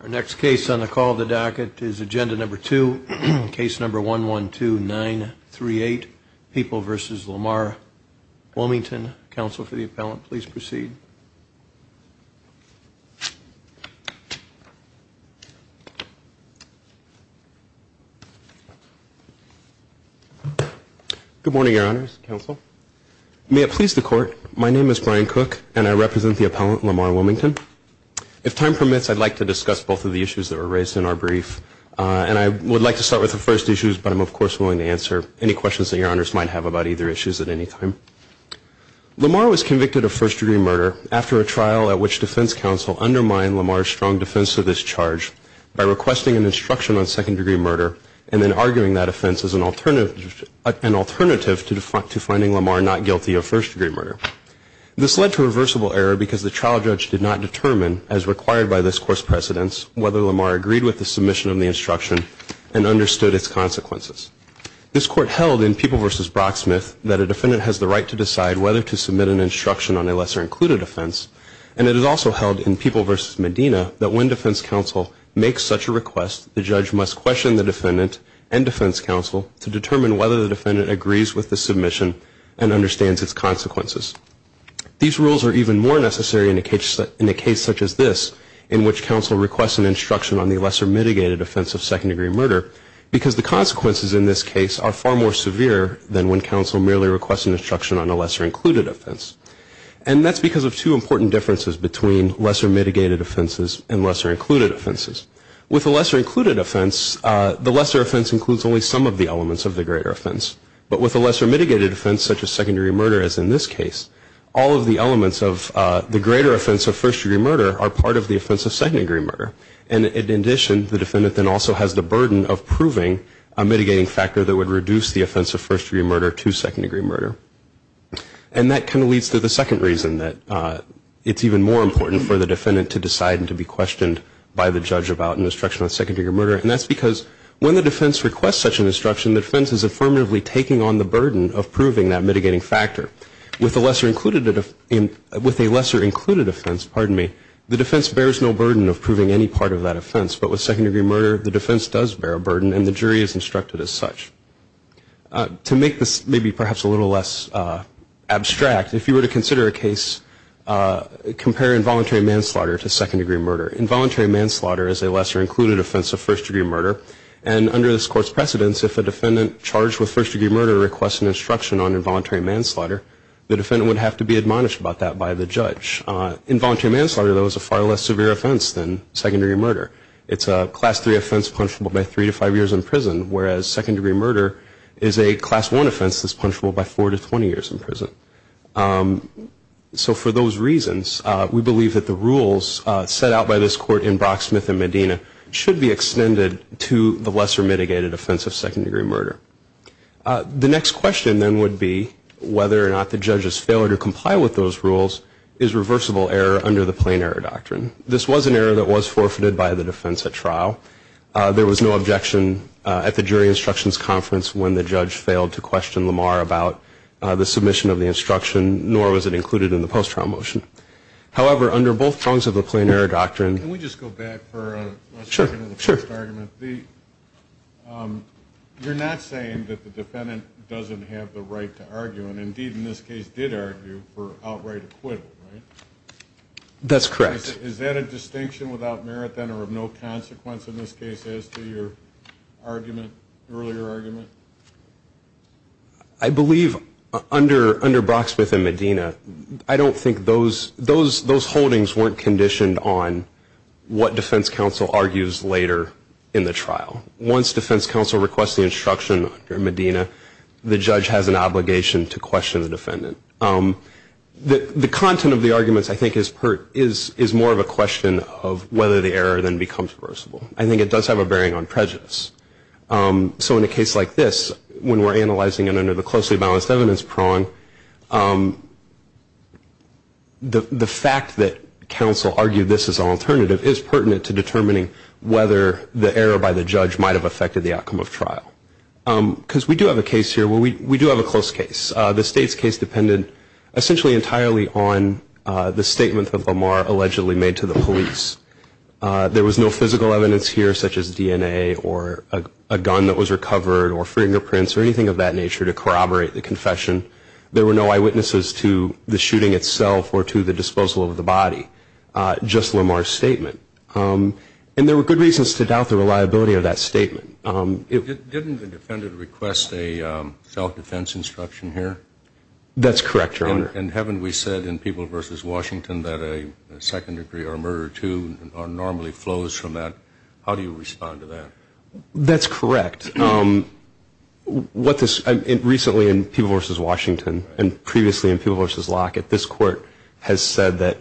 Our next case on the call of the docket is Agenda No. 2, Case No. 112938, People v. Lamar Wilmington. Counsel for the appellant, please proceed. Good morning, Your Honors, Counsel. May it please the Court, my name is Brian Cook, and I represent the appellant Lamar Wilmington. If time permits, I'd like to discuss both of the issues that were raised in our brief, and I would like to start with the first issues, but I'm, of course, willing to answer any questions that Your Honors might have about either issues at any time. Lamar was convicted of first-degree murder after a trial at which defense counsel undermined Lamar's strong defense of this charge by requesting an instruction on second-degree murder and then arguing that offense as an alternative to finding Lamar not guilty of first-degree murder. This led to a reversible error because the trial judge did not determine, as required by this Court's precedence, whether Lamar agreed with the submission of the instruction and understood its consequences. This Court held in People v. Brocksmith that a defendant has the right to decide whether to submit an instruction on a lesser-included offense, and it is also held in People v. Medina that when defense counsel makes such a request, the judge must question the defendant and defense counsel to determine whether the defendant agrees with the submission and understands its consequences. These rules are even more necessary in a case such as this, in which counsel requests an instruction on the lesser-mitigated offense of second-degree murder, because the consequences in this case are far more severe than when counsel merely requests an instruction on a lesser-included offense, and that's because of two important differences between lesser-mitigated offenses and lesser-included offenses. With a lesser-included offense, the lesser offense includes only some of the elements of the greater offense, but with a lesser-mitigated offense, such as second-degree murder, as in this case, all of the elements of the greater offense of first-degree murder are part of the offense of second-degree murder, and in addition, the defendant then also has the burden of proving a mitigating factor that would reduce the offense of first-degree murder to second-degree murder. And that kind of leads to the second reason that it's even more important for the defendant to decide and to be questioned by the judge about an instruction on second-degree murder, and that's because when the defense requests such an instruction, the defense is affirmatively taking on the burden of proving that mitigating factor. With a lesser-included offense, the defense bears no burden of proving any part of that offense, but with second-degree murder, the defense does bear a burden, and the jury is instructed as such. To make this maybe perhaps a little less abstract, if you were to consider a case, compare involuntary manslaughter to second-degree murder. Involuntary manslaughter is a lesser-included offense of first-degree murder, and under this Court's precedence, if a defendant charged with first-degree murder requests an instruction on involuntary manslaughter, the defendant would have to be admonished about that by the judge. Involuntary manslaughter, though, is a far less severe offense than second-degree murder. It's a Class III offense punishable by three to five years in prison, whereas second-degree murder is a Class I offense that's punishable by four to 20 years in prison. So for those reasons, we believe that the rules set out by this Court in Brock, Smith, and Medina should be extended to the lesser- included offense. The next question, then, would be whether or not the judge's failure to comply with those rules is reversible error under the plain error doctrine. This was an error that was forfeited by the defense at trial. There was no objection at the jury instructions conference when the judge failed to question Lamar about the submission of the instruction, nor was it included in the post-trial motion. However, under both prongs of the plain error doctrine... I believe under Brock, Smith, and Medina, I don't think those holdings weren't conditioned on what defense counsel argues later in the trial. Once defense counsel requests the instruction under Medina, the judge has an obligation to question the defendant. The content of the arguments, I think, is more of a question of whether the error then becomes reversible. I think it does have a bearing on prejudice. So in a case like this, when we're analyzing it under the closely-balanced evidence prong, the fact that counsel argued this as an alternative is pertinent to determining whether the error by the judge might have affected the outcome of trial. Because we do have a case here, well, we do have a close case. The state's case depended essentially entirely on the statement that Lamar allegedly made to the police. There was no physical evidence here, such as DNA or a gun that was recovered or fingerprints or anything of that nature to corroborate the confession. There were no eyewitnesses to the shooting itself or to the disposal of the body. Just Lamar's statement. And there were good reasons to doubt the reliability of that statement. Didn't the defendant request a self-defense instruction here? That's correct, Your Honor. And haven't we said in People v. Washington that a second degree or a murder or two normally flows from that? That's correct. Recently in People v. Washington and previously in People v. Lockett, this Court has said that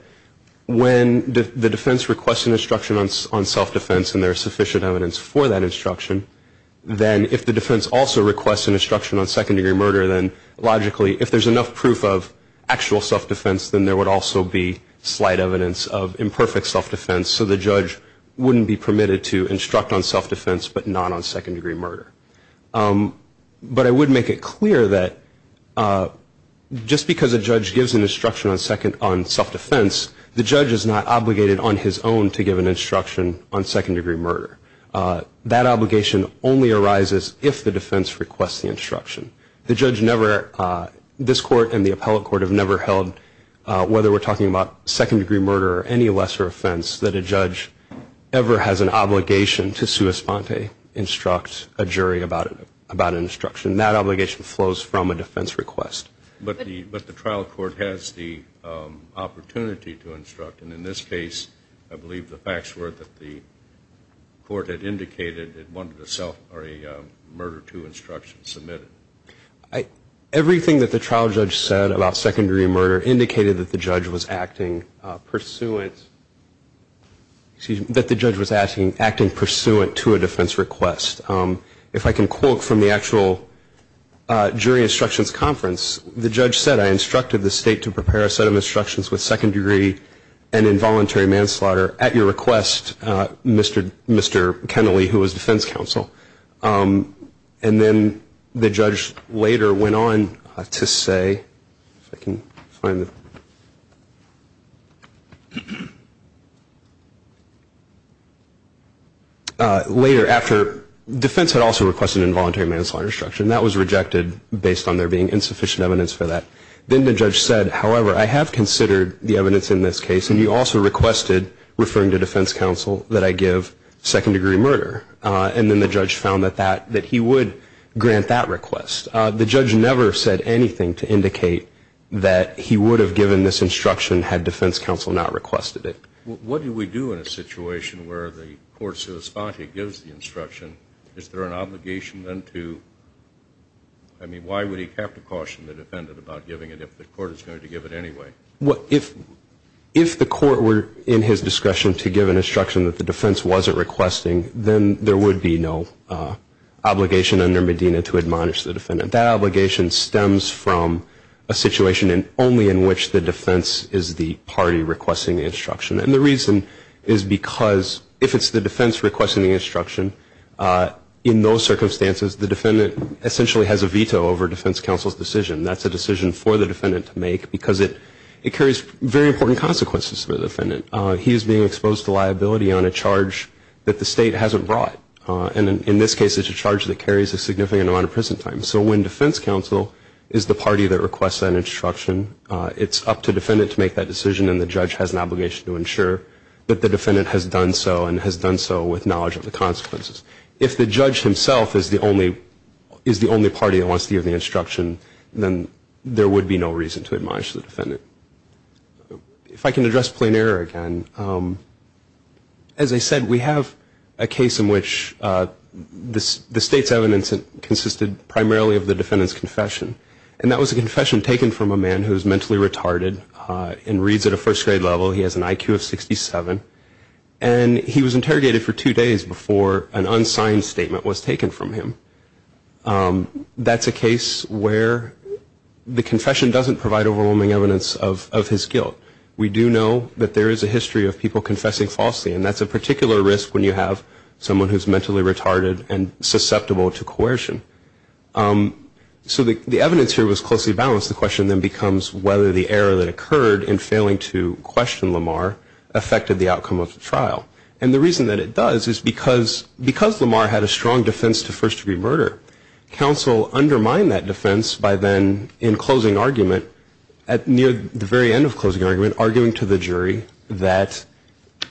when the defense requests an instruction on self-defense and there is sufficient evidence for that instruction, then if the defense also requests an instruction on second degree murder, then logically if there's enough proof of actual self-defense, then there would also be slight evidence of imperfect self-defense. But not on second degree murder. But I would make it clear that just because a judge gives an instruction on self-defense, the judge is not obligated on his own to give an instruction on second degree murder. That obligation only arises if the defense requests the instruction. This Court and the appellate court have never held, whether we're talking about second degree murder or any lesser offense, that a judge ever has an obligation to sua sponte, instruct a jury about an instruction. That obligation flows from a defense request. But the trial court has the opportunity to instruct. And in this case, I believe the facts were that the court had indicated it wanted a self or a murder two instruction submitted. Everything that the trial judge said about second degree murder indicated that the judge was acting pursuant to a defense request. If I can quote from the actual jury instructions conference, the judge said, I instructed the state to prepare a set of instructions with second degree and involuntary manslaughter at your request, Mr. Kennelly, who was defense counsel. And then the judge later went on to say, if I can find it. Later after, defense had also requested involuntary manslaughter instruction. That was rejected based on there being insufficient evidence for that. Then the judge said, however, I have considered the evidence in this case and you also requested, referring to defense counsel, that I give second degree murder. And then the judge found that he would grant that request. The judge never said anything to indicate that he would have given this instruction had defense counsel not requested it. What do we do in a situation where the court gives the instruction, is there an obligation then to, I mean, why would he have to caution the defendant about giving it if the court is going to give it anyway? If the court were in his discretion to give an instruction that the defense wasn't requesting, then there would be no obligation under Medina to admonish the defendant. That obligation stems from a situation only in which the defense is the party requesting the instruction. And the reason is because if it's the defense requesting the instruction, in those circumstances the defendant essentially has a veto over defense counsel's decision. That's a decision for the defendant to make because it carries very important consequences for the defendant. He is being exposed to liability on a charge that the state hasn't brought. And in this case it's a charge that carries a significant amount of prison time. So when defense counsel is the party that requests that instruction, it's up to defendant to make that decision and the judge has an obligation to ensure that the defendant has done so and has done so with knowledge of the consequences. If the judge himself is the only party that wants to give the instruction, then there would be no reason to admonish the defendant. If I can address plain error again, as I said, we have a case in which the state's evidence consisted primarily of the defendant's confession. And that was a confession taken from a man who is mentally retarded and reads at a first grade level. He has an IQ of 67 and he was interrogated for two days before an unsigned statement was taken from him. That's a case where the confession doesn't provide overwhelming evidence of his guilt. We do know that there is a history of people confessing falsely and that's a particular risk when you have someone who is mentally retarded and susceptible to coercion. So the evidence here was closely balanced. The question then becomes whether the error that occurred in failing to question Lamar affected the outcome of the trial. And the reason that it does is because Lamar had a strong defense to first degree murder, counsel undermined that defense by then in closing argument, at near the very end of closing argument, arguing to the jury that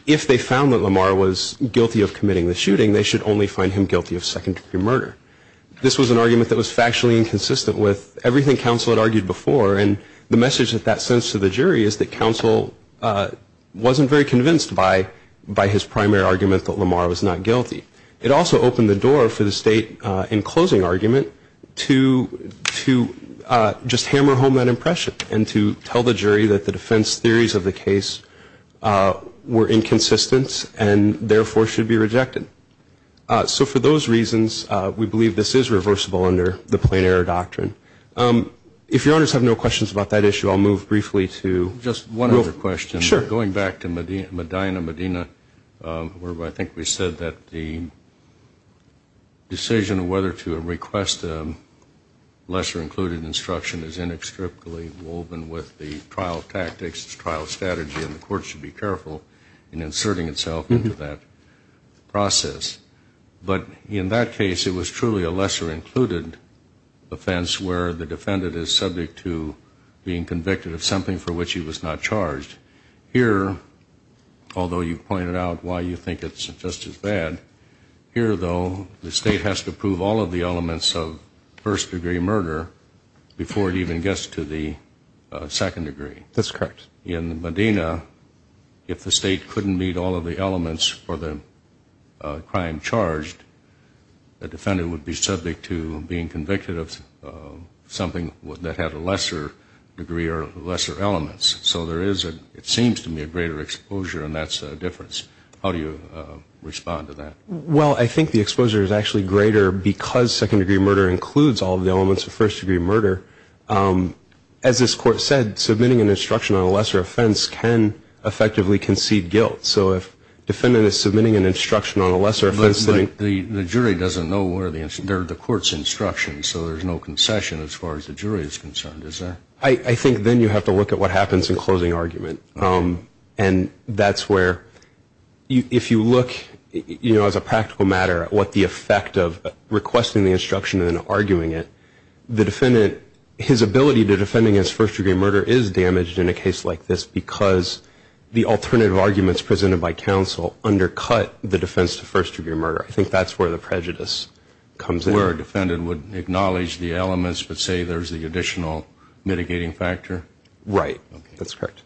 if they found that Lamar was guilty of committing the shooting, they should only find him guilty of second degree murder. This was an argument that was factually inconsistent with everything counsel had argued before and the message that that sends to the jury is that counsel wasn't very convinced by his primary argument that Lamar was not guilty. It also opened the door for the state in closing argument to just hammer home that impression and to tell the jury that the defense theories of the case were inconsistent and therefore should be rejected. So for those reasons, we believe this is reversible under the plain error doctrine. If your honors have no questions about that issue, I'll move briefly to real questions. Going back to Medina, Medina, where I think we said that the decision of whether to request a lesser included instruction is inextricably woven with the trial tactics, the trial strategy and the court should be careful in inserting itself into that process. But in that case, it was truly a lesser included offense where the defendant is subject to being convicted of something for which he was not charged. Here, although you pointed out why you think it's just as bad, here, though, the state has to prove all of the elements of first degree murder before it even gets to the second degree. That's correct. In Medina, if the state couldn't meet all of the elements for the crime charged, the defendant would be subject to being convicted of something that had a lesser degree or lesser elements. So there is, it seems to me, a greater exposure and that's a difference. How do you respond to that? Well, I think the exposure is actually greater because second degree murder includes all of the elements of first degree murder. As this court said, submitting an instruction on a lesser offense can effectively concede guilt. So if the defendant is submitting an instruction on a lesser offense... But the jury doesn't know where the court's instructions, so there's no concession as far as the jury is concerned, is there? I think then you have to look at what happens in closing argument. And that's where, if you look, you know, as a practical matter, at what the effect of requesting the instruction and then arguing it, the defendant, his ability to defend against first degree murder is damaged in a case like this because the alternative arguments presented by counsel undercut the defense to first degree murder. I think that's where the prejudice comes in. So that's where a defendant would acknowledge the elements but say there's the additional mitigating factor? Right. That's correct.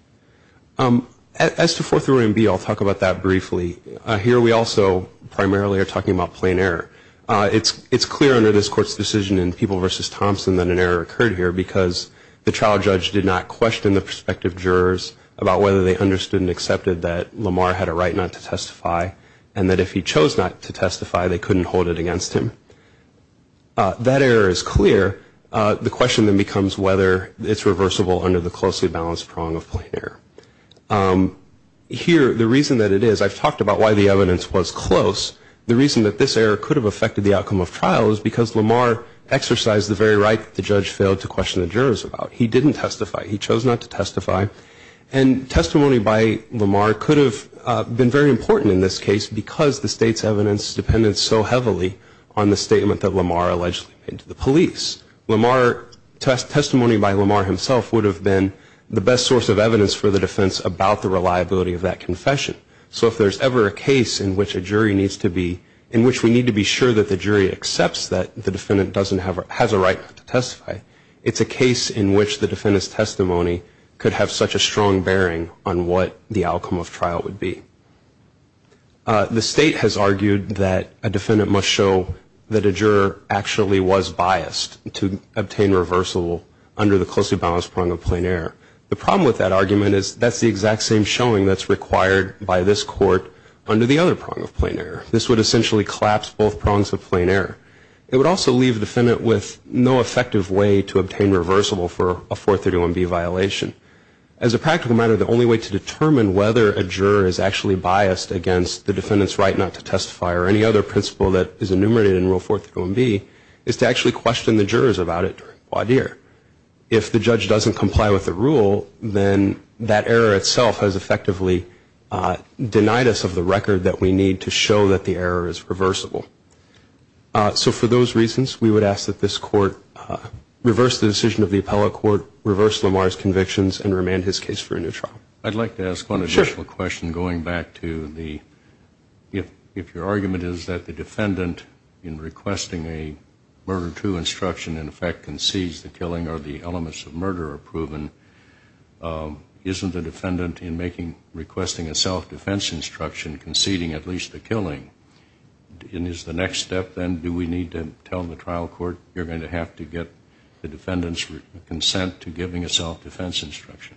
As to Fourth Amendment B, I'll talk about that briefly. Here we also primarily are talking about plain error. It's clear under this Court's decision in People v. Thompson that an error occurred here because the trial judge did not question the prospective jurors about whether they understood and accepted that Lamar had a right not to testify, and that if he chose not to testify, they couldn't hold it against him. That error is clear. The question then becomes whether it's reversible under the closely balanced prong of plain error. Here, the reason that it is, I've talked about why the evidence was close. The reason that this error could have affected the outcome of trial is because Lamar exercised the very right that the judge failed to question the jurors about. He didn't testify. He chose not to testify. And testimony by Lamar could have been very important in this case because the State's evidence depended so heavily on the statement that Lamar allegedly made to the police. Lamar, testimony by Lamar himself would have been the best source of evidence for the defense about the reliability of that confession. So if there's ever a case in which a jury needs to be, in which we need to be sure that the jury accepts that the defendant has a right not to testify, it's a case in which the defendant's testimony could have such a strong bearing on what the outcome of trial would be. The State has argued that a defendant must show that a juror actually was biased to obtain reversible under the closely balanced prong of plain error. The problem with that argument is that's the exact same showing that's required by this court under the other prong of plain error. This would essentially collapse both prongs of plain error. It would also leave the defendant with no effective way to obtain reversible for a 431B violation. As a practical matter, the only way to determine whether a juror is actually biased against the defendant's right not to testify or any other principle that is enumerated in Rule 431B is to actually question the jurors about it during voir dire. If the judge doesn't comply with the rule, then that error itself has effectively denied us of the record that we need to show that the error is reversible. So for those reasons, we would ask that this court reverse the decision of the appellate court, reverse Lamar's convictions and remand his case for a new trial. I'd like to ask one additional question going back to the, if your argument is that the defendant in requesting a murder to instruction in effect concedes the killing or the elements of murder are proven, isn't the defendant in requesting a self-defense instruction conceding at least the next step, then do we need to tell the trial court you're going to have to get the defendant's consent to giving a self-defense instruction?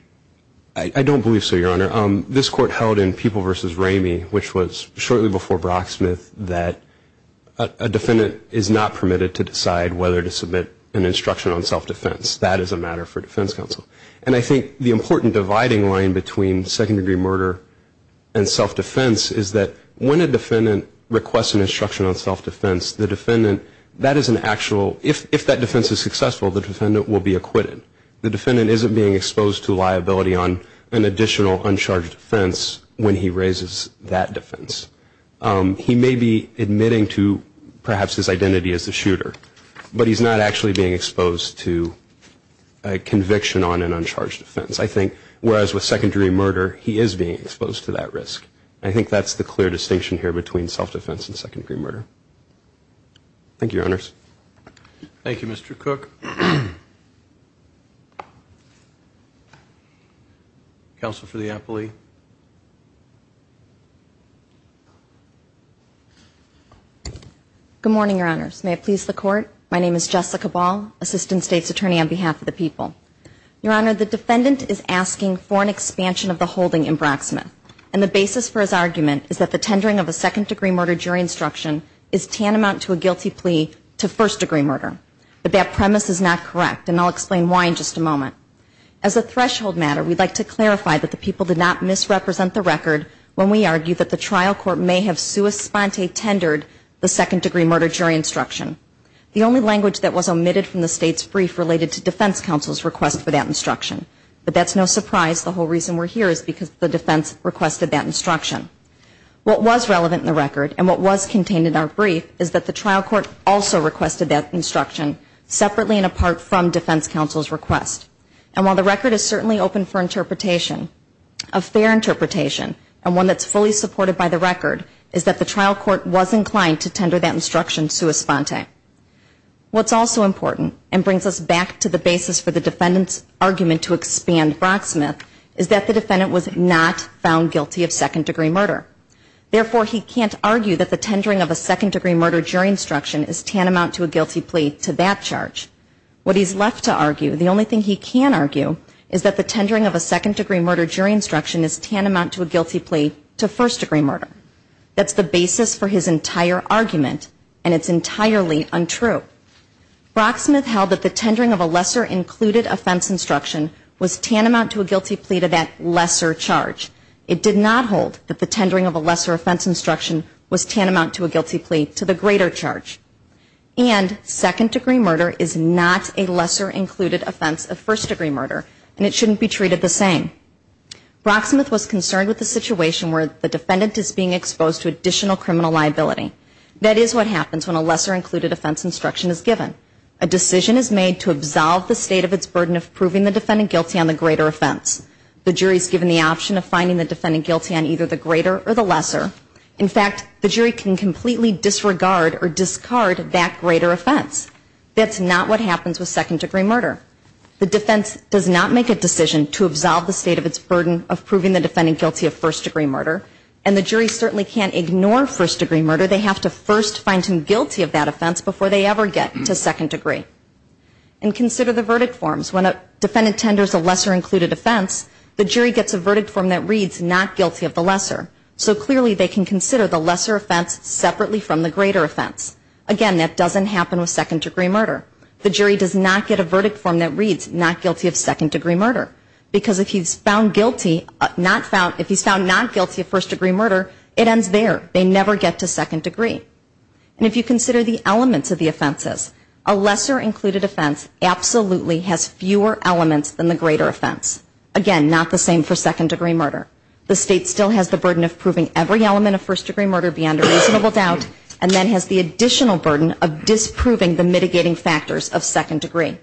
I don't believe so, Your Honor. This court held in People v. Ramey, which was shortly before Brocksmith, that a defendant is not permitted to decide whether to submit an instruction on self-defense. That is a matter for defense counsel. And I think the important dividing line between second-degree murder and self-defense is that when a defendant requests an instruction on self-defense, the defendant, that is an actual, if that defense is successful, the defendant will be acquitted. The defendant isn't being exposed to liability on an additional uncharged offense when he raises that defense. He may be admitting to perhaps his identity as the shooter, but he's not actually being exposed to a conviction on a second-degree murder. I think that's the clear distinction here between self-defense and second-degree murder. Thank you, Your Honors. Thank you, Mr. Cook. Counsel for the appellee. Good morning, Your Honors. May it please the Court, my name is Jessica Ball, Assistant State's Attorney on behalf of the People. Your Honor, the defendant is asking for an expansion of the holding in Brocksmith. And the basis for his argument is that the tendering of a second-degree murder jury instruction is tantamount to a guilty plea to first-degree murder. But that premise is not correct, and I'll explain why in just a moment. As a threshold matter, we'd like to clarify that the People did not misrepresent the record when we argued that the trial court may have sua sponte tendered the second-degree murder jury instruction. The only language that was omitted from the State's brief related to defense counsel's request for that instruction. But that's no surprise. The whole reason we're here is because the defense requested that instruction. What was relevant in the record, and what was contained in our brief, is that the trial court also requested that instruction separately and apart from defense counsel's request. And while the record is certainly open for interpretation, a fair interpretation, and one that's fully supported by the record, is that the trial court was inclined to tender that instruction sua sponte. What's also important, and brings us back to the basis for the defendant's argument to expand Brocksmith, is that the defendant was not found guilty of second-degree murder. Therefore, he can't argue that the tendering of a second-degree murder jury instruction is tantamount to a guilty plea to that charge. What he's left to argue, the only thing he can argue, is that the tendering of a second-degree murder jury instruction is tantamount to a guilty plea to first-degree murder. That's the basis for his entire argument, and it's entirely untrue. Brocksmith held that the tendering of a lesser-included offense instruction was tantamount to a guilty plea to that lesser charge. It did not hold that the tendering of a lesser offense instruction was tantamount to a guilty plea to the greater charge. And second-degree murder is not a lesser-included offense of first-degree murder, and it shouldn't be treated the same. Brocksmith was concerned with the situation where the defendant is being exposed to additional criminal liability. That is what happens when a lesser-included offense instruction is given. A decision is made to absolve the state of its burden of proving the defendant guilty on the greater offense. The jury is given the option of finding the defendant guilty on either the greater or the lesser. In fact, the jury can completely disregard or discard that greater offense. That's not what happens with second-degree murder. The defense does not make a decision to absolve the state of its burden of proving the defendant guilty of first-degree murder, and the jury certainly can't ignore first-degree murder. They have to first find him guilty of that offense before they ever get to second-degree. And consider the verdict forms. When a defendant tenders a lesser-included offense, the jury gets a verdict form that reads not guilty of the lesser. So clearly they can consider the lesser offense separately from the greater offense. Again, that doesn't happen with second-degree murder. The jury does not get a verdict form that reads not guilty of second-degree murder, because if he's found not guilty of first-degree murder, it ends there. They never get to second-degree. And if you consider the elements of the offenses, a lesser-included offense absolutely has fewer elements than the greater offense. Again, not the same for second-degree murder. The state still has the burden of proving every element of first-degree murder beyond a reasonable doubt, and then has the additional burden of disproving the mitigating factors of second-degree.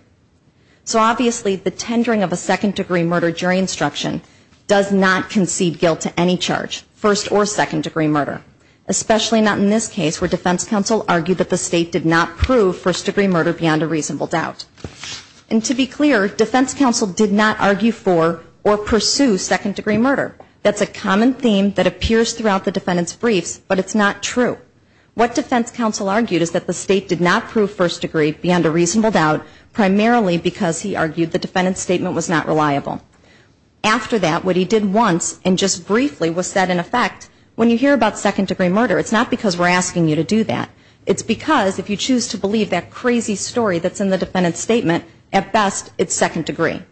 So obviously the tendering of a second-degree murder jury instruction does not concede guilt to any charge, first- or second-degree murder. Especially not in this case where defense counsel argued that the state did not prove first-degree murder beyond a reasonable doubt. And to be clear, defense counsel did not argue for or pursue second-degree murder. That's a common theme that appears throughout the defendant's briefs, but it's not true. What defense counsel argued is that the state did not prove first-degree beyond a reasonable doubt, primarily because he argued the defendant's statement was not reliable. After that, what he did once, and just briefly, was set in effect. When you hear about second-degree murder, it's not because we're asking you to do that. It's because if you choose to believe that crazy story that's in the defendant's statement, at best it's second-degree.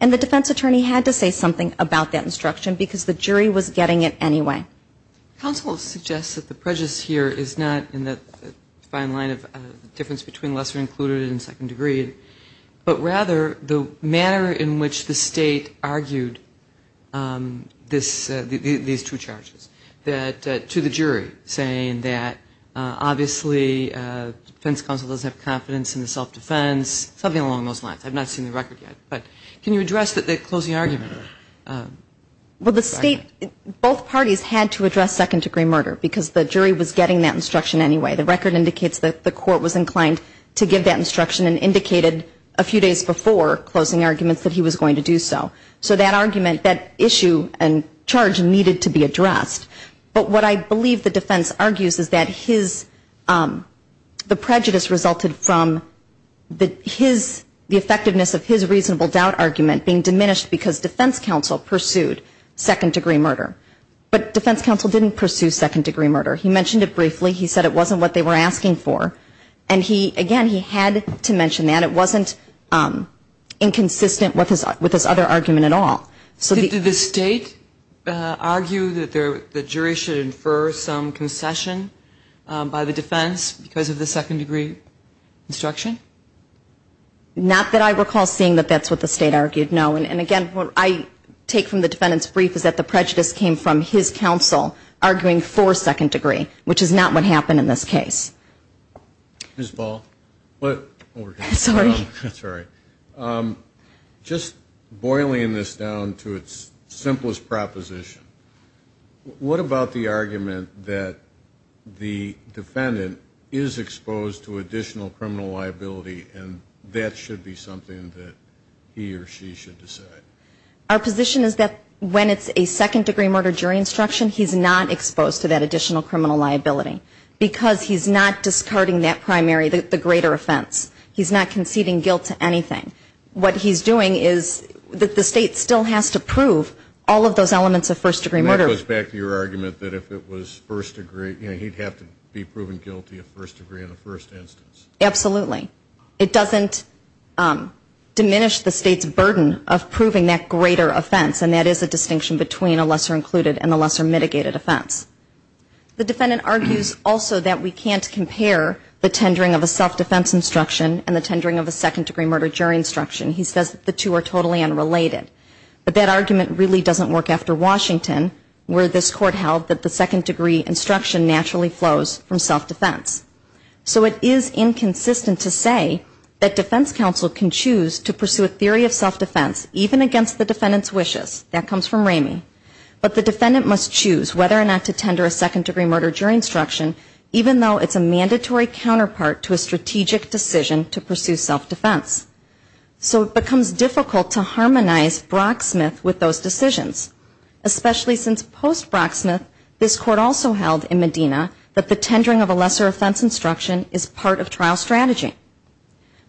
And the defense attorney had to say something about that instruction because the jury was getting it anyway. Counsel will suggest that the prejudice here is not in the fine line of difference between lesser included and second-degree, but rather the manner in which the state argued these two charges to the jury, saying that obviously defense counsel doesn't have confidence in the self-defense, something along those lines. I've not seen the record yet, but can you address the closing argument? Well, the state, both parties had to address second-degree murder because the jury was getting that instruction anyway. The record indicates that the court was inclined to give that instruction and indicated a few days before closing arguments that he was going to do so. So that argument, that issue and charge needed to be addressed. But what I believe the defense argues is that the prejudice resulted from the effectiveness of his reasonable doubt argument being diminished because defense counsel pursued second-degree murder. But defense counsel didn't pursue second-degree murder. He mentioned it briefly. He said it wasn't what they were asking for, and again, he had to mention that. It wasn't inconsistent with his other argument at all. Did the state argue that the jury should infer some concession by the defense because of the second-degree instruction? Not that I recall seeing that that's what the state argued, no. And again, what I take from the defendant's brief is that the prejudice came from his counsel arguing for second-degree, which is not what happened in this case. Just boiling this down to its simplest proposition, what about the argument that the defendant is exposed to additional criminal liability and that should be something that he or she should decide? Our position is that when it's a second-degree murder jury instruction, he's not exposed to that additional criminal liability, because he's not discarding that primary, the greater offense. He's not conceding guilt to anything. What he's doing is that the state still has to prove all of those elements of first-degree murder. It goes back to your argument that if it was first-degree, he'd have to be proven guilty of first-degree in the first instance. Absolutely. It doesn't diminish the state's burden of proving that greater offense, and that is a distinction between a lesser-included and a lesser-mitigated offense. The defendant argues also that we can't compare the tendering of a self-defense instruction and the tendering of a second-degree murder jury instruction. He says the two are totally unrelated. But that argument really doesn't work after Washington, where this Court held that the second-degree instruction naturally flows from self-defense. So it is inconsistent to say that defense counsel can choose to pursue a theory of self-defense, even against the defendant's wishes. That comes from Ramey. But the defendant must choose whether or not to tender a second-degree murder jury instruction, even though it's a mandatory counterpart to a strategic decision to pursue self-defense. So it becomes difficult to harmonize Brocksmith with those decisions, especially since post-Brocksmith this Court also held in Medina that the tendering of a lesser-offense instruction is part of trial strategy.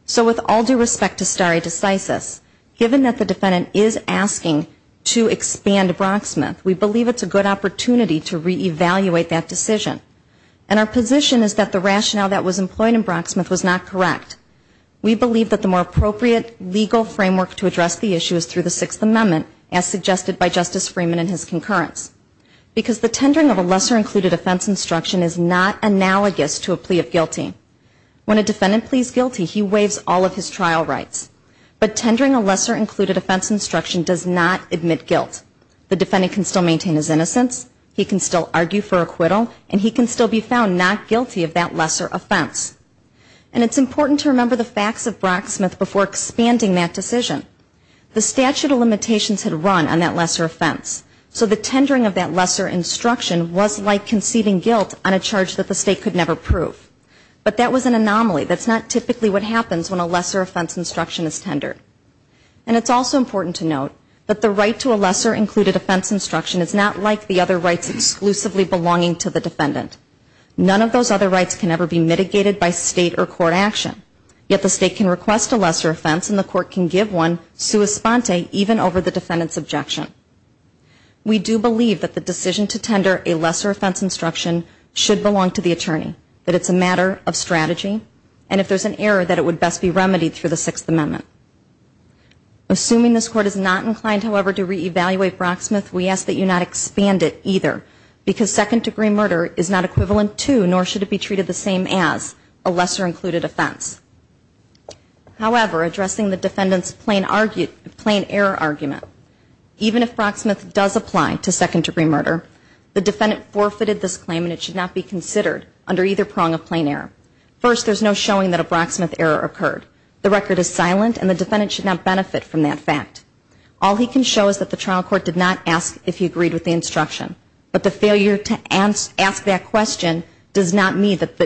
So with all due respect to stare decisis, given that the defendant is asking to expand Brocksmith, we believe it's a good opportunity to re-evaluate that decision. And our position is that the rationale that was employed in Brocksmith was not correct. We believe that the more appropriate legal framework to address the issue is through the Sixth Amendment, as suggested by Justice Freeman in his concurrence, because the tendering of a lesser-included offense instruction is not analogous to a plea of guilty. When a defendant pleads guilty, he waives all of his trial rights. But tendering a lesser-included offense instruction does not admit guilt. The defendant can still maintain his innocence, he can still argue for acquittal, and he can still be found not guilty of that lesser offense. And it's important to remember the facts of Brocksmith before expanding that decision. The statute of limitations had run on that lesser offense, so the tendering of that lesser instruction was like conceiving guilt on a charge that the State could never prove. But that was an anomaly, that's not typically what happens when a lesser offense instruction is tendered. And it's also important to note that the right to a lesser-included offense instruction is not like the other rights exclusively belonging to the defendant. None of those other rights can ever be mitigated by State or court action, yet the State can request a lesser offense and the court can give one sua sponte even over the defendant's objection. We do believe that the decision to tender a lesser offense instruction should belong to the attorney, that it's a matter of strategy, and if there's an error, that it would best be remedied through the Sixth Amendment. Assuming this Court is not inclined, however, to re-evaluate Brocksmith, we ask that you not expand it either, because second-degree murder is not equivalent to, nor should it be treated the same as, a lesser-included offense. However, addressing the defendant's plain error argument, even if Brocksmith does apply to second-degree murder, the defendant forfeited this claim and it should not be considered under either prong of plain error. First, there's no showing that a Brocksmith error occurred. The record is silent and the defendant should not benefit from that fact. All he can show is that the trial court did not ask if he agreed with the instruction. But the failure to ask that question does not mean that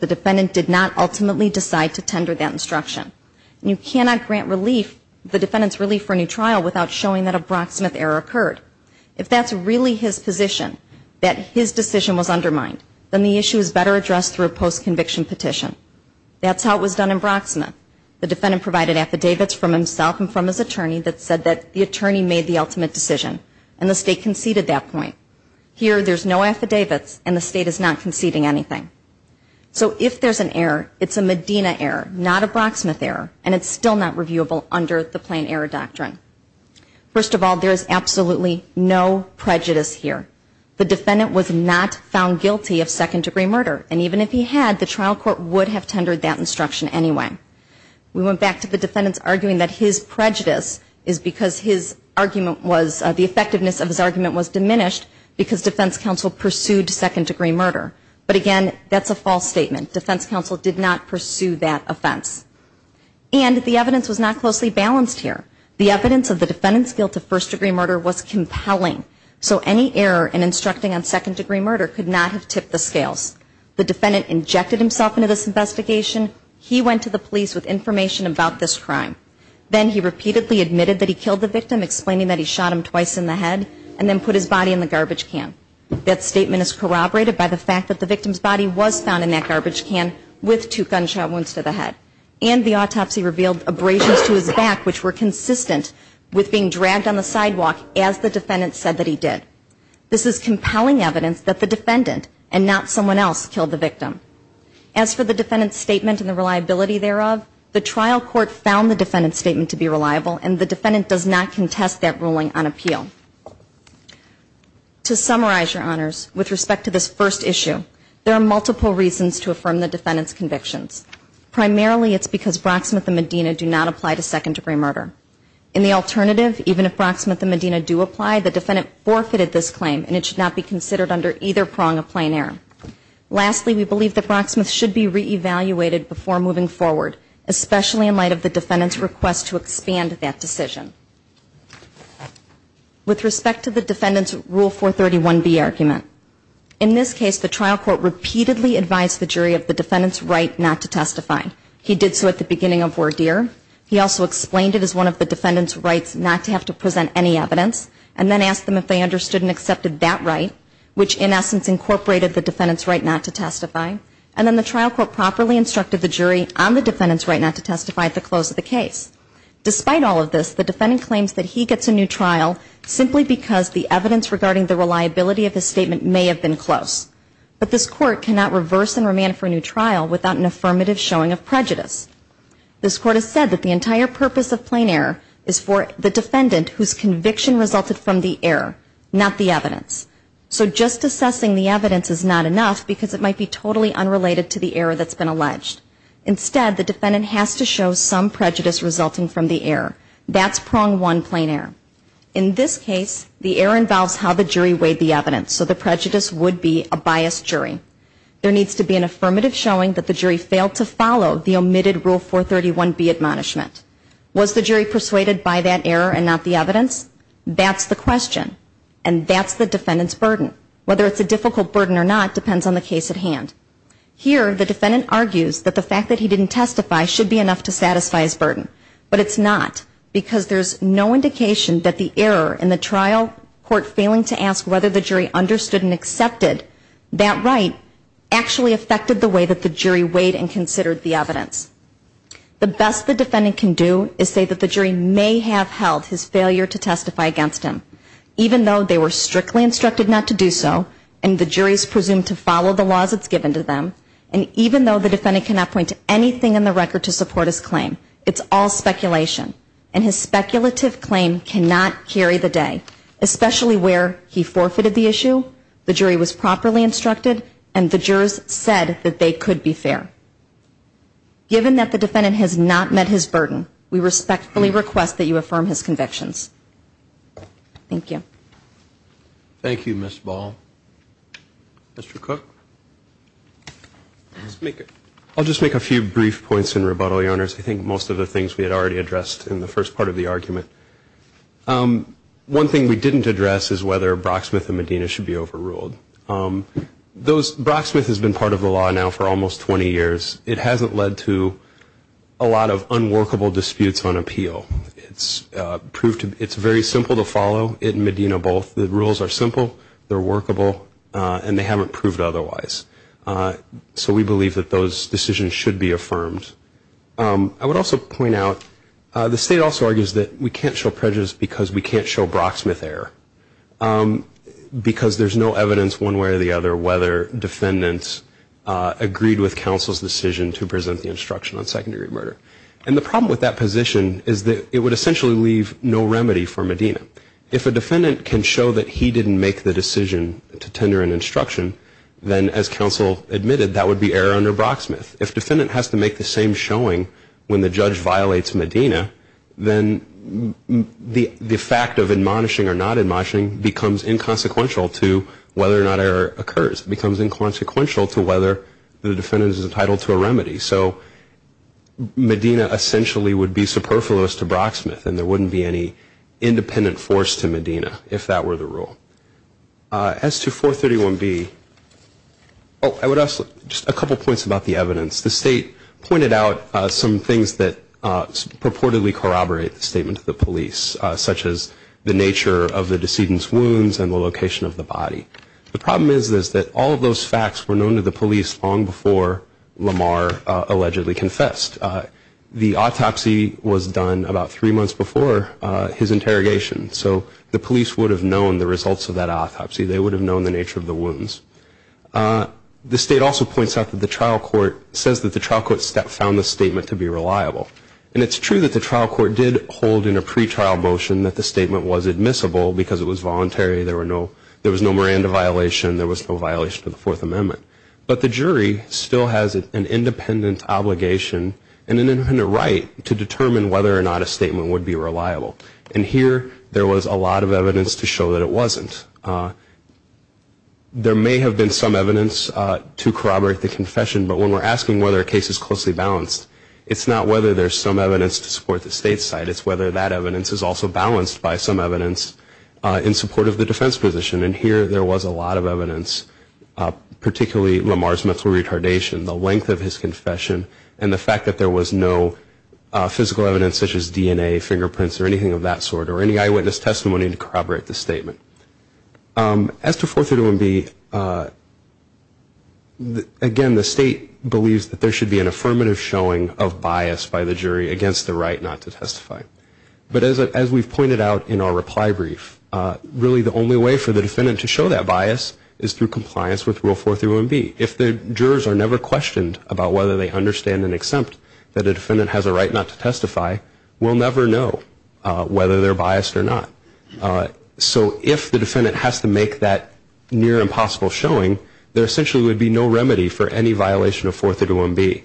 the defendant did not ultimately decide to tender that instruction. And you cannot grant relief, the defendant's relief for a new trial, without showing that a Brocksmith error occurred. If that's really his position, that his decision was undermined, then the issue is better addressed through a post-conviction petition. That's how it was done in Brocksmith. The defendant provided affidavits from himself and from his attorney that said that the attorney made the ultimate decision, and the State conceded that point. Here, there's no affidavits and the State is not conceding anything. So if there's an error, it's a Medina error, not a Brocksmith error, and it's still not reviewable under the plain error doctrine. First of all, there is absolutely no prejudice here. The defendant was not found guilty of second-degree murder, and even if he had, the trial court would have tendered that opinion. We went back to the defendant's arguing that his prejudice is because his argument was, the effectiveness of his argument was diminished because defense counsel pursued second-degree murder. But again, that's a false statement. Defense counsel did not pursue that offense. And the evidence was not closely balanced here. The evidence of the defendant's guilt of first-degree murder was compelling, so any error in instructing on second-degree murder could not have tipped the scales. The defendant injected himself into this investigation, he went to the police with information about this crime. Then he repeatedly admitted that he killed the victim, explaining that he shot him twice in the head, and then put his body in the garbage can. That statement is corroborated by the fact that the victim's body was found in that garbage can with two gunshot wounds to the head. And the autopsy revealed abrasions to his back, which were consistent with being dragged on the sidewalk as the defendant said that he did. This is compelling evidence that the defendant, and not someone else, killed the victim. As for the defendant's statement and the reliability thereof, the trial court found the defendant's statement to be reliable, and the defendant does not contest that ruling on appeal. To summarize, Your Honors, with respect to this first issue, there are multiple reasons to affirm the defendant's convictions. Primarily, it's because Brocksmith and Medina do not apply to second-degree murder. In the alternative, even if Brocksmith and Medina do apply, the defendant forfeited this claim, and it should not be considered under either prong of plain error. Lastly, we believe that Brocksmith should be re-evaluated before moving forward, especially in light of the defendant's request to expand that decision. With respect to the defendant's Rule 431B argument, in this case the trial court repeatedly advised the jury of the defendant's right not to testify. He did so at the beginning of Wardeer. He also explained it as one of the defendant's rights not to have to present any evidence, and then asked them if they understood and accepted that right, which in essence incorporated the defendant's right not to testify, and then the trial court properly instructed the jury on the defendant's right not to testify at the close of the case. Despite all of this, the defendant claims that he gets a new trial simply because the evidence regarding the reliability of his statement may have been close. But this Court cannot reverse and remand for a new trial without an affirmative showing of prejudice. This Court has said that the entire purpose of plain error is for the defendant whose conviction resulted from the error, not the jury, to be totally unrelated to the error that's been alleged. Instead, the defendant has to show some prejudice resulting from the error. That's prong one plain error. In this case, the error involves how the jury weighed the evidence, so the prejudice would be a biased jury. There needs to be an affirmative showing that the jury failed to follow the omitted Rule 431B admonishment. Was the jury persuaded by that error and not the evidence? That's the question. And that's the defendant's burden. Whether it's a difficult burden or not depends on the case at hand. Here, the defendant argues that the fact that he didn't testify should be enough to satisfy his burden. But it's not, because there's no indication that the error in the trial court failing to ask whether the jury understood and accepted that right actually affected the way that the jury weighed and considered the evidence. The best the defendant can do is say that the jury may have held his failure to testify against him, even though they were strictly instructed not to do so and the jury is presumed to follow the laws that's given to them, and even though the defendant cannot point to anything in the record to support his claim, it's all speculation. And his speculative claim cannot carry the day, especially where he forfeited the issue, the jury was properly instructed, and the jurors said that they could be fair. Given that the defendant has not met his burden, we respectfully request that you affirm his convictions. Thank you. Thank you, Ms. Ball. Mr. Cook? I'll just make a few brief points in rebuttal, Your Honors. I think most of the things we had already addressed in the first part of the argument. One thing we didn't address is whether Brocksmith and Medina should be overruled. Those, Brocksmith has been part of the law now for almost 20 years. It hasn't led to a lot of unworkable disputes on appeal. It's very simple to follow, it and Medina both. The rules are simple, they're workable, and they haven't proved otherwise. So we believe that those decisions should be affirmed. I would also point out, the state also argues that we can't show prejudice because we can't show Brocksmith error, because there's no evidence one way or the other whether defendants agreed with counsel's decision to present the position is that it would essentially leave no remedy for Medina. If a defendant can show that he didn't make the decision to tender an instruction, then as counsel admitted, that would be error under Brocksmith. If defendant has to make the same showing when the judge violates Medina, then the fact of admonishing or not admonishing becomes inconsequential to whether or not error occurs, becomes inconsequential to whether the defendant is entitled to a sentence. So there wouldn't be superfluous to Brocksmith, and there wouldn't be any independent force to Medina if that were the rule. As to 431B, I would ask just a couple points about the evidence. The state pointed out some things that purportedly corroborate the statement to the police, such as the nature of the decedent's wounds and the location of the body. The problem is that all of those facts were known to the police long before Lamar allegedly confessed. The autopsy, the autopsy report, the autopsy report, the autopsy report was done about three months before his interrogation. So the police would have known the results of that autopsy. They would have known the nature of the wounds. The state also points out that the trial court says that the trial court found the statement to be reliable. And it's true that the trial court did hold in a pretrial motion that the statement was admissible because it was voluntary. There was no Miranda violation. There was no violation of the Fourth Amendment. But the jury still has an independent obligation and an independent right to determine whether or not a statement would be reliable. And here there was a lot of evidence to show that it wasn't. There may have been some evidence to corroborate the confession, but when we're asking whether a case is closely balanced, it's not whether there's some evidence to support the state's side. It's whether that evidence is also balanced by some evidence in support of the defense position. And here there was a lot of evidence, particularly Lamar's mental retardation, the fact that there was no physical evidence such as DNA, fingerprints, or anything of that sort, or any eyewitness testimony to corroborate the statement. As to 431B, again, the state believes that there should be an affirmative showing of bias by the jury against the right not to testify. But as we've pointed out in our reply brief, really the only way for the defendant to show that bias is through compliance with the law, whether they understand and accept that a defendant has a right not to testify, we'll never know whether they're biased or not. So if the defendant has to make that near-impossible showing, there essentially would be no remedy for any violation of 431B.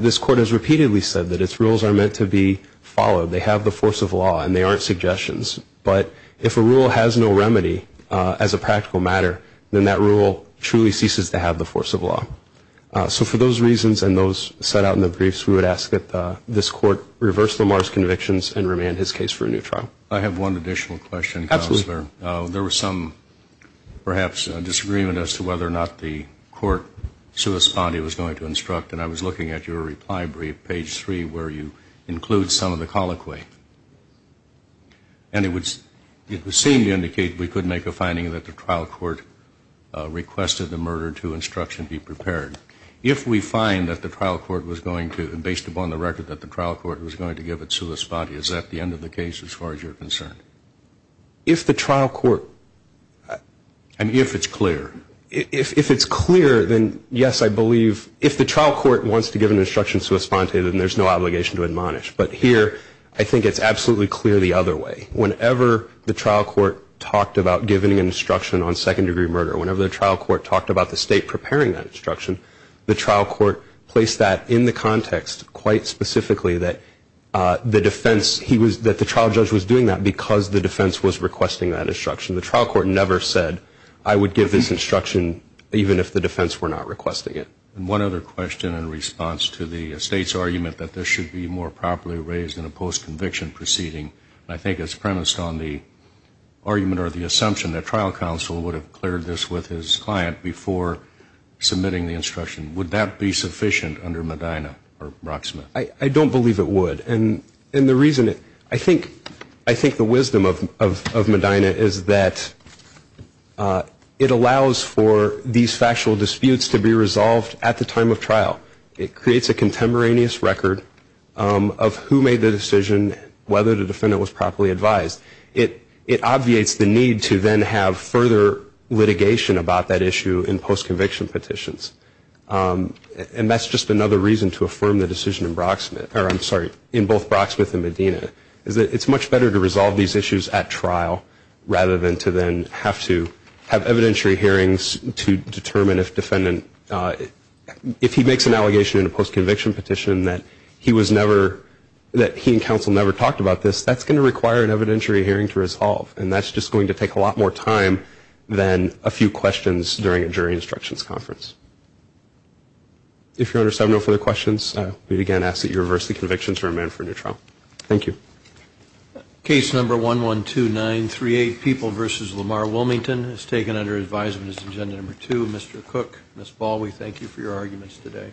This court has repeatedly said that its rules are meant to be followed. They have the force of law and they aren't suggestions. But if a rule has no remedy as a practical matter, then that rule truly ceases to have the force of law. So for those reasons, I think it's important to understand that there is no remedy for any violation of 431B. And I think that's a good point. Thank you. I have one additional question, Counselor. There was some, perhaps, disagreement as to whether or not the court was going to give it to Sua Spadi. And I was looking at your reply brief, page 3, where you include some of the colloquy. And it seemed to indicate we could make a finding that the trial court requested the murder to instruction be prepared. If we find that the trial court was going to, based upon the record that the trial court was going to give it to Sua Spadi, is that the end of the case as far as you're concerned? If the trial court... I mean, if it's clear. If it's clear, then yes, I believe. If the trial court wants to give an instruction to Sua Spadi, then there's no obligation to admonish. But here, I think it's absolutely clear the other way. Whenever the trial court talked about giving an instruction on second-degree murder, whenever the trial court talked about the State preparing that instruction, the trial court placed that in the context, quite specifically, that the defense, that the trial judge was doing that because the defense was requesting that instruction. The trial court never said, I would give this instruction even if the defense were not requesting it. And one other question in response to the State's argument that this should be more properly raised in a post-conviction proceeding. I think the wisdom of Medina is that it allows for these factual disputes to be resolved at the time of trial. It creates a contemporaneous record of who made the decision, whether the defendant was properly advised. It obviates the need to then have further litigation about that issue in post-conviction petitions. And that's just another reason to affirm the decision in Brocksmith, or I'm sorry, in both Brocksmith and Medina, is that it's much better to resolve these issues at trial rather than to then have to have evidentiary hearings to determine if defendant, if he makes an allegation in a post-conviction petition that he was never, that he and counsel never talked about this, that's going to require an additional hearing and then a few questions during a jury instructions conference. If you're under 7-0 for the questions, we'd again ask that you reverse the convictions or amend for a new trial. Thank you. Case number 112938, People v. Lamar Wilmington, is taken under advisement as agenda number 2. Mr. Cook, Ms. Baldwin, thank you for your arguments today.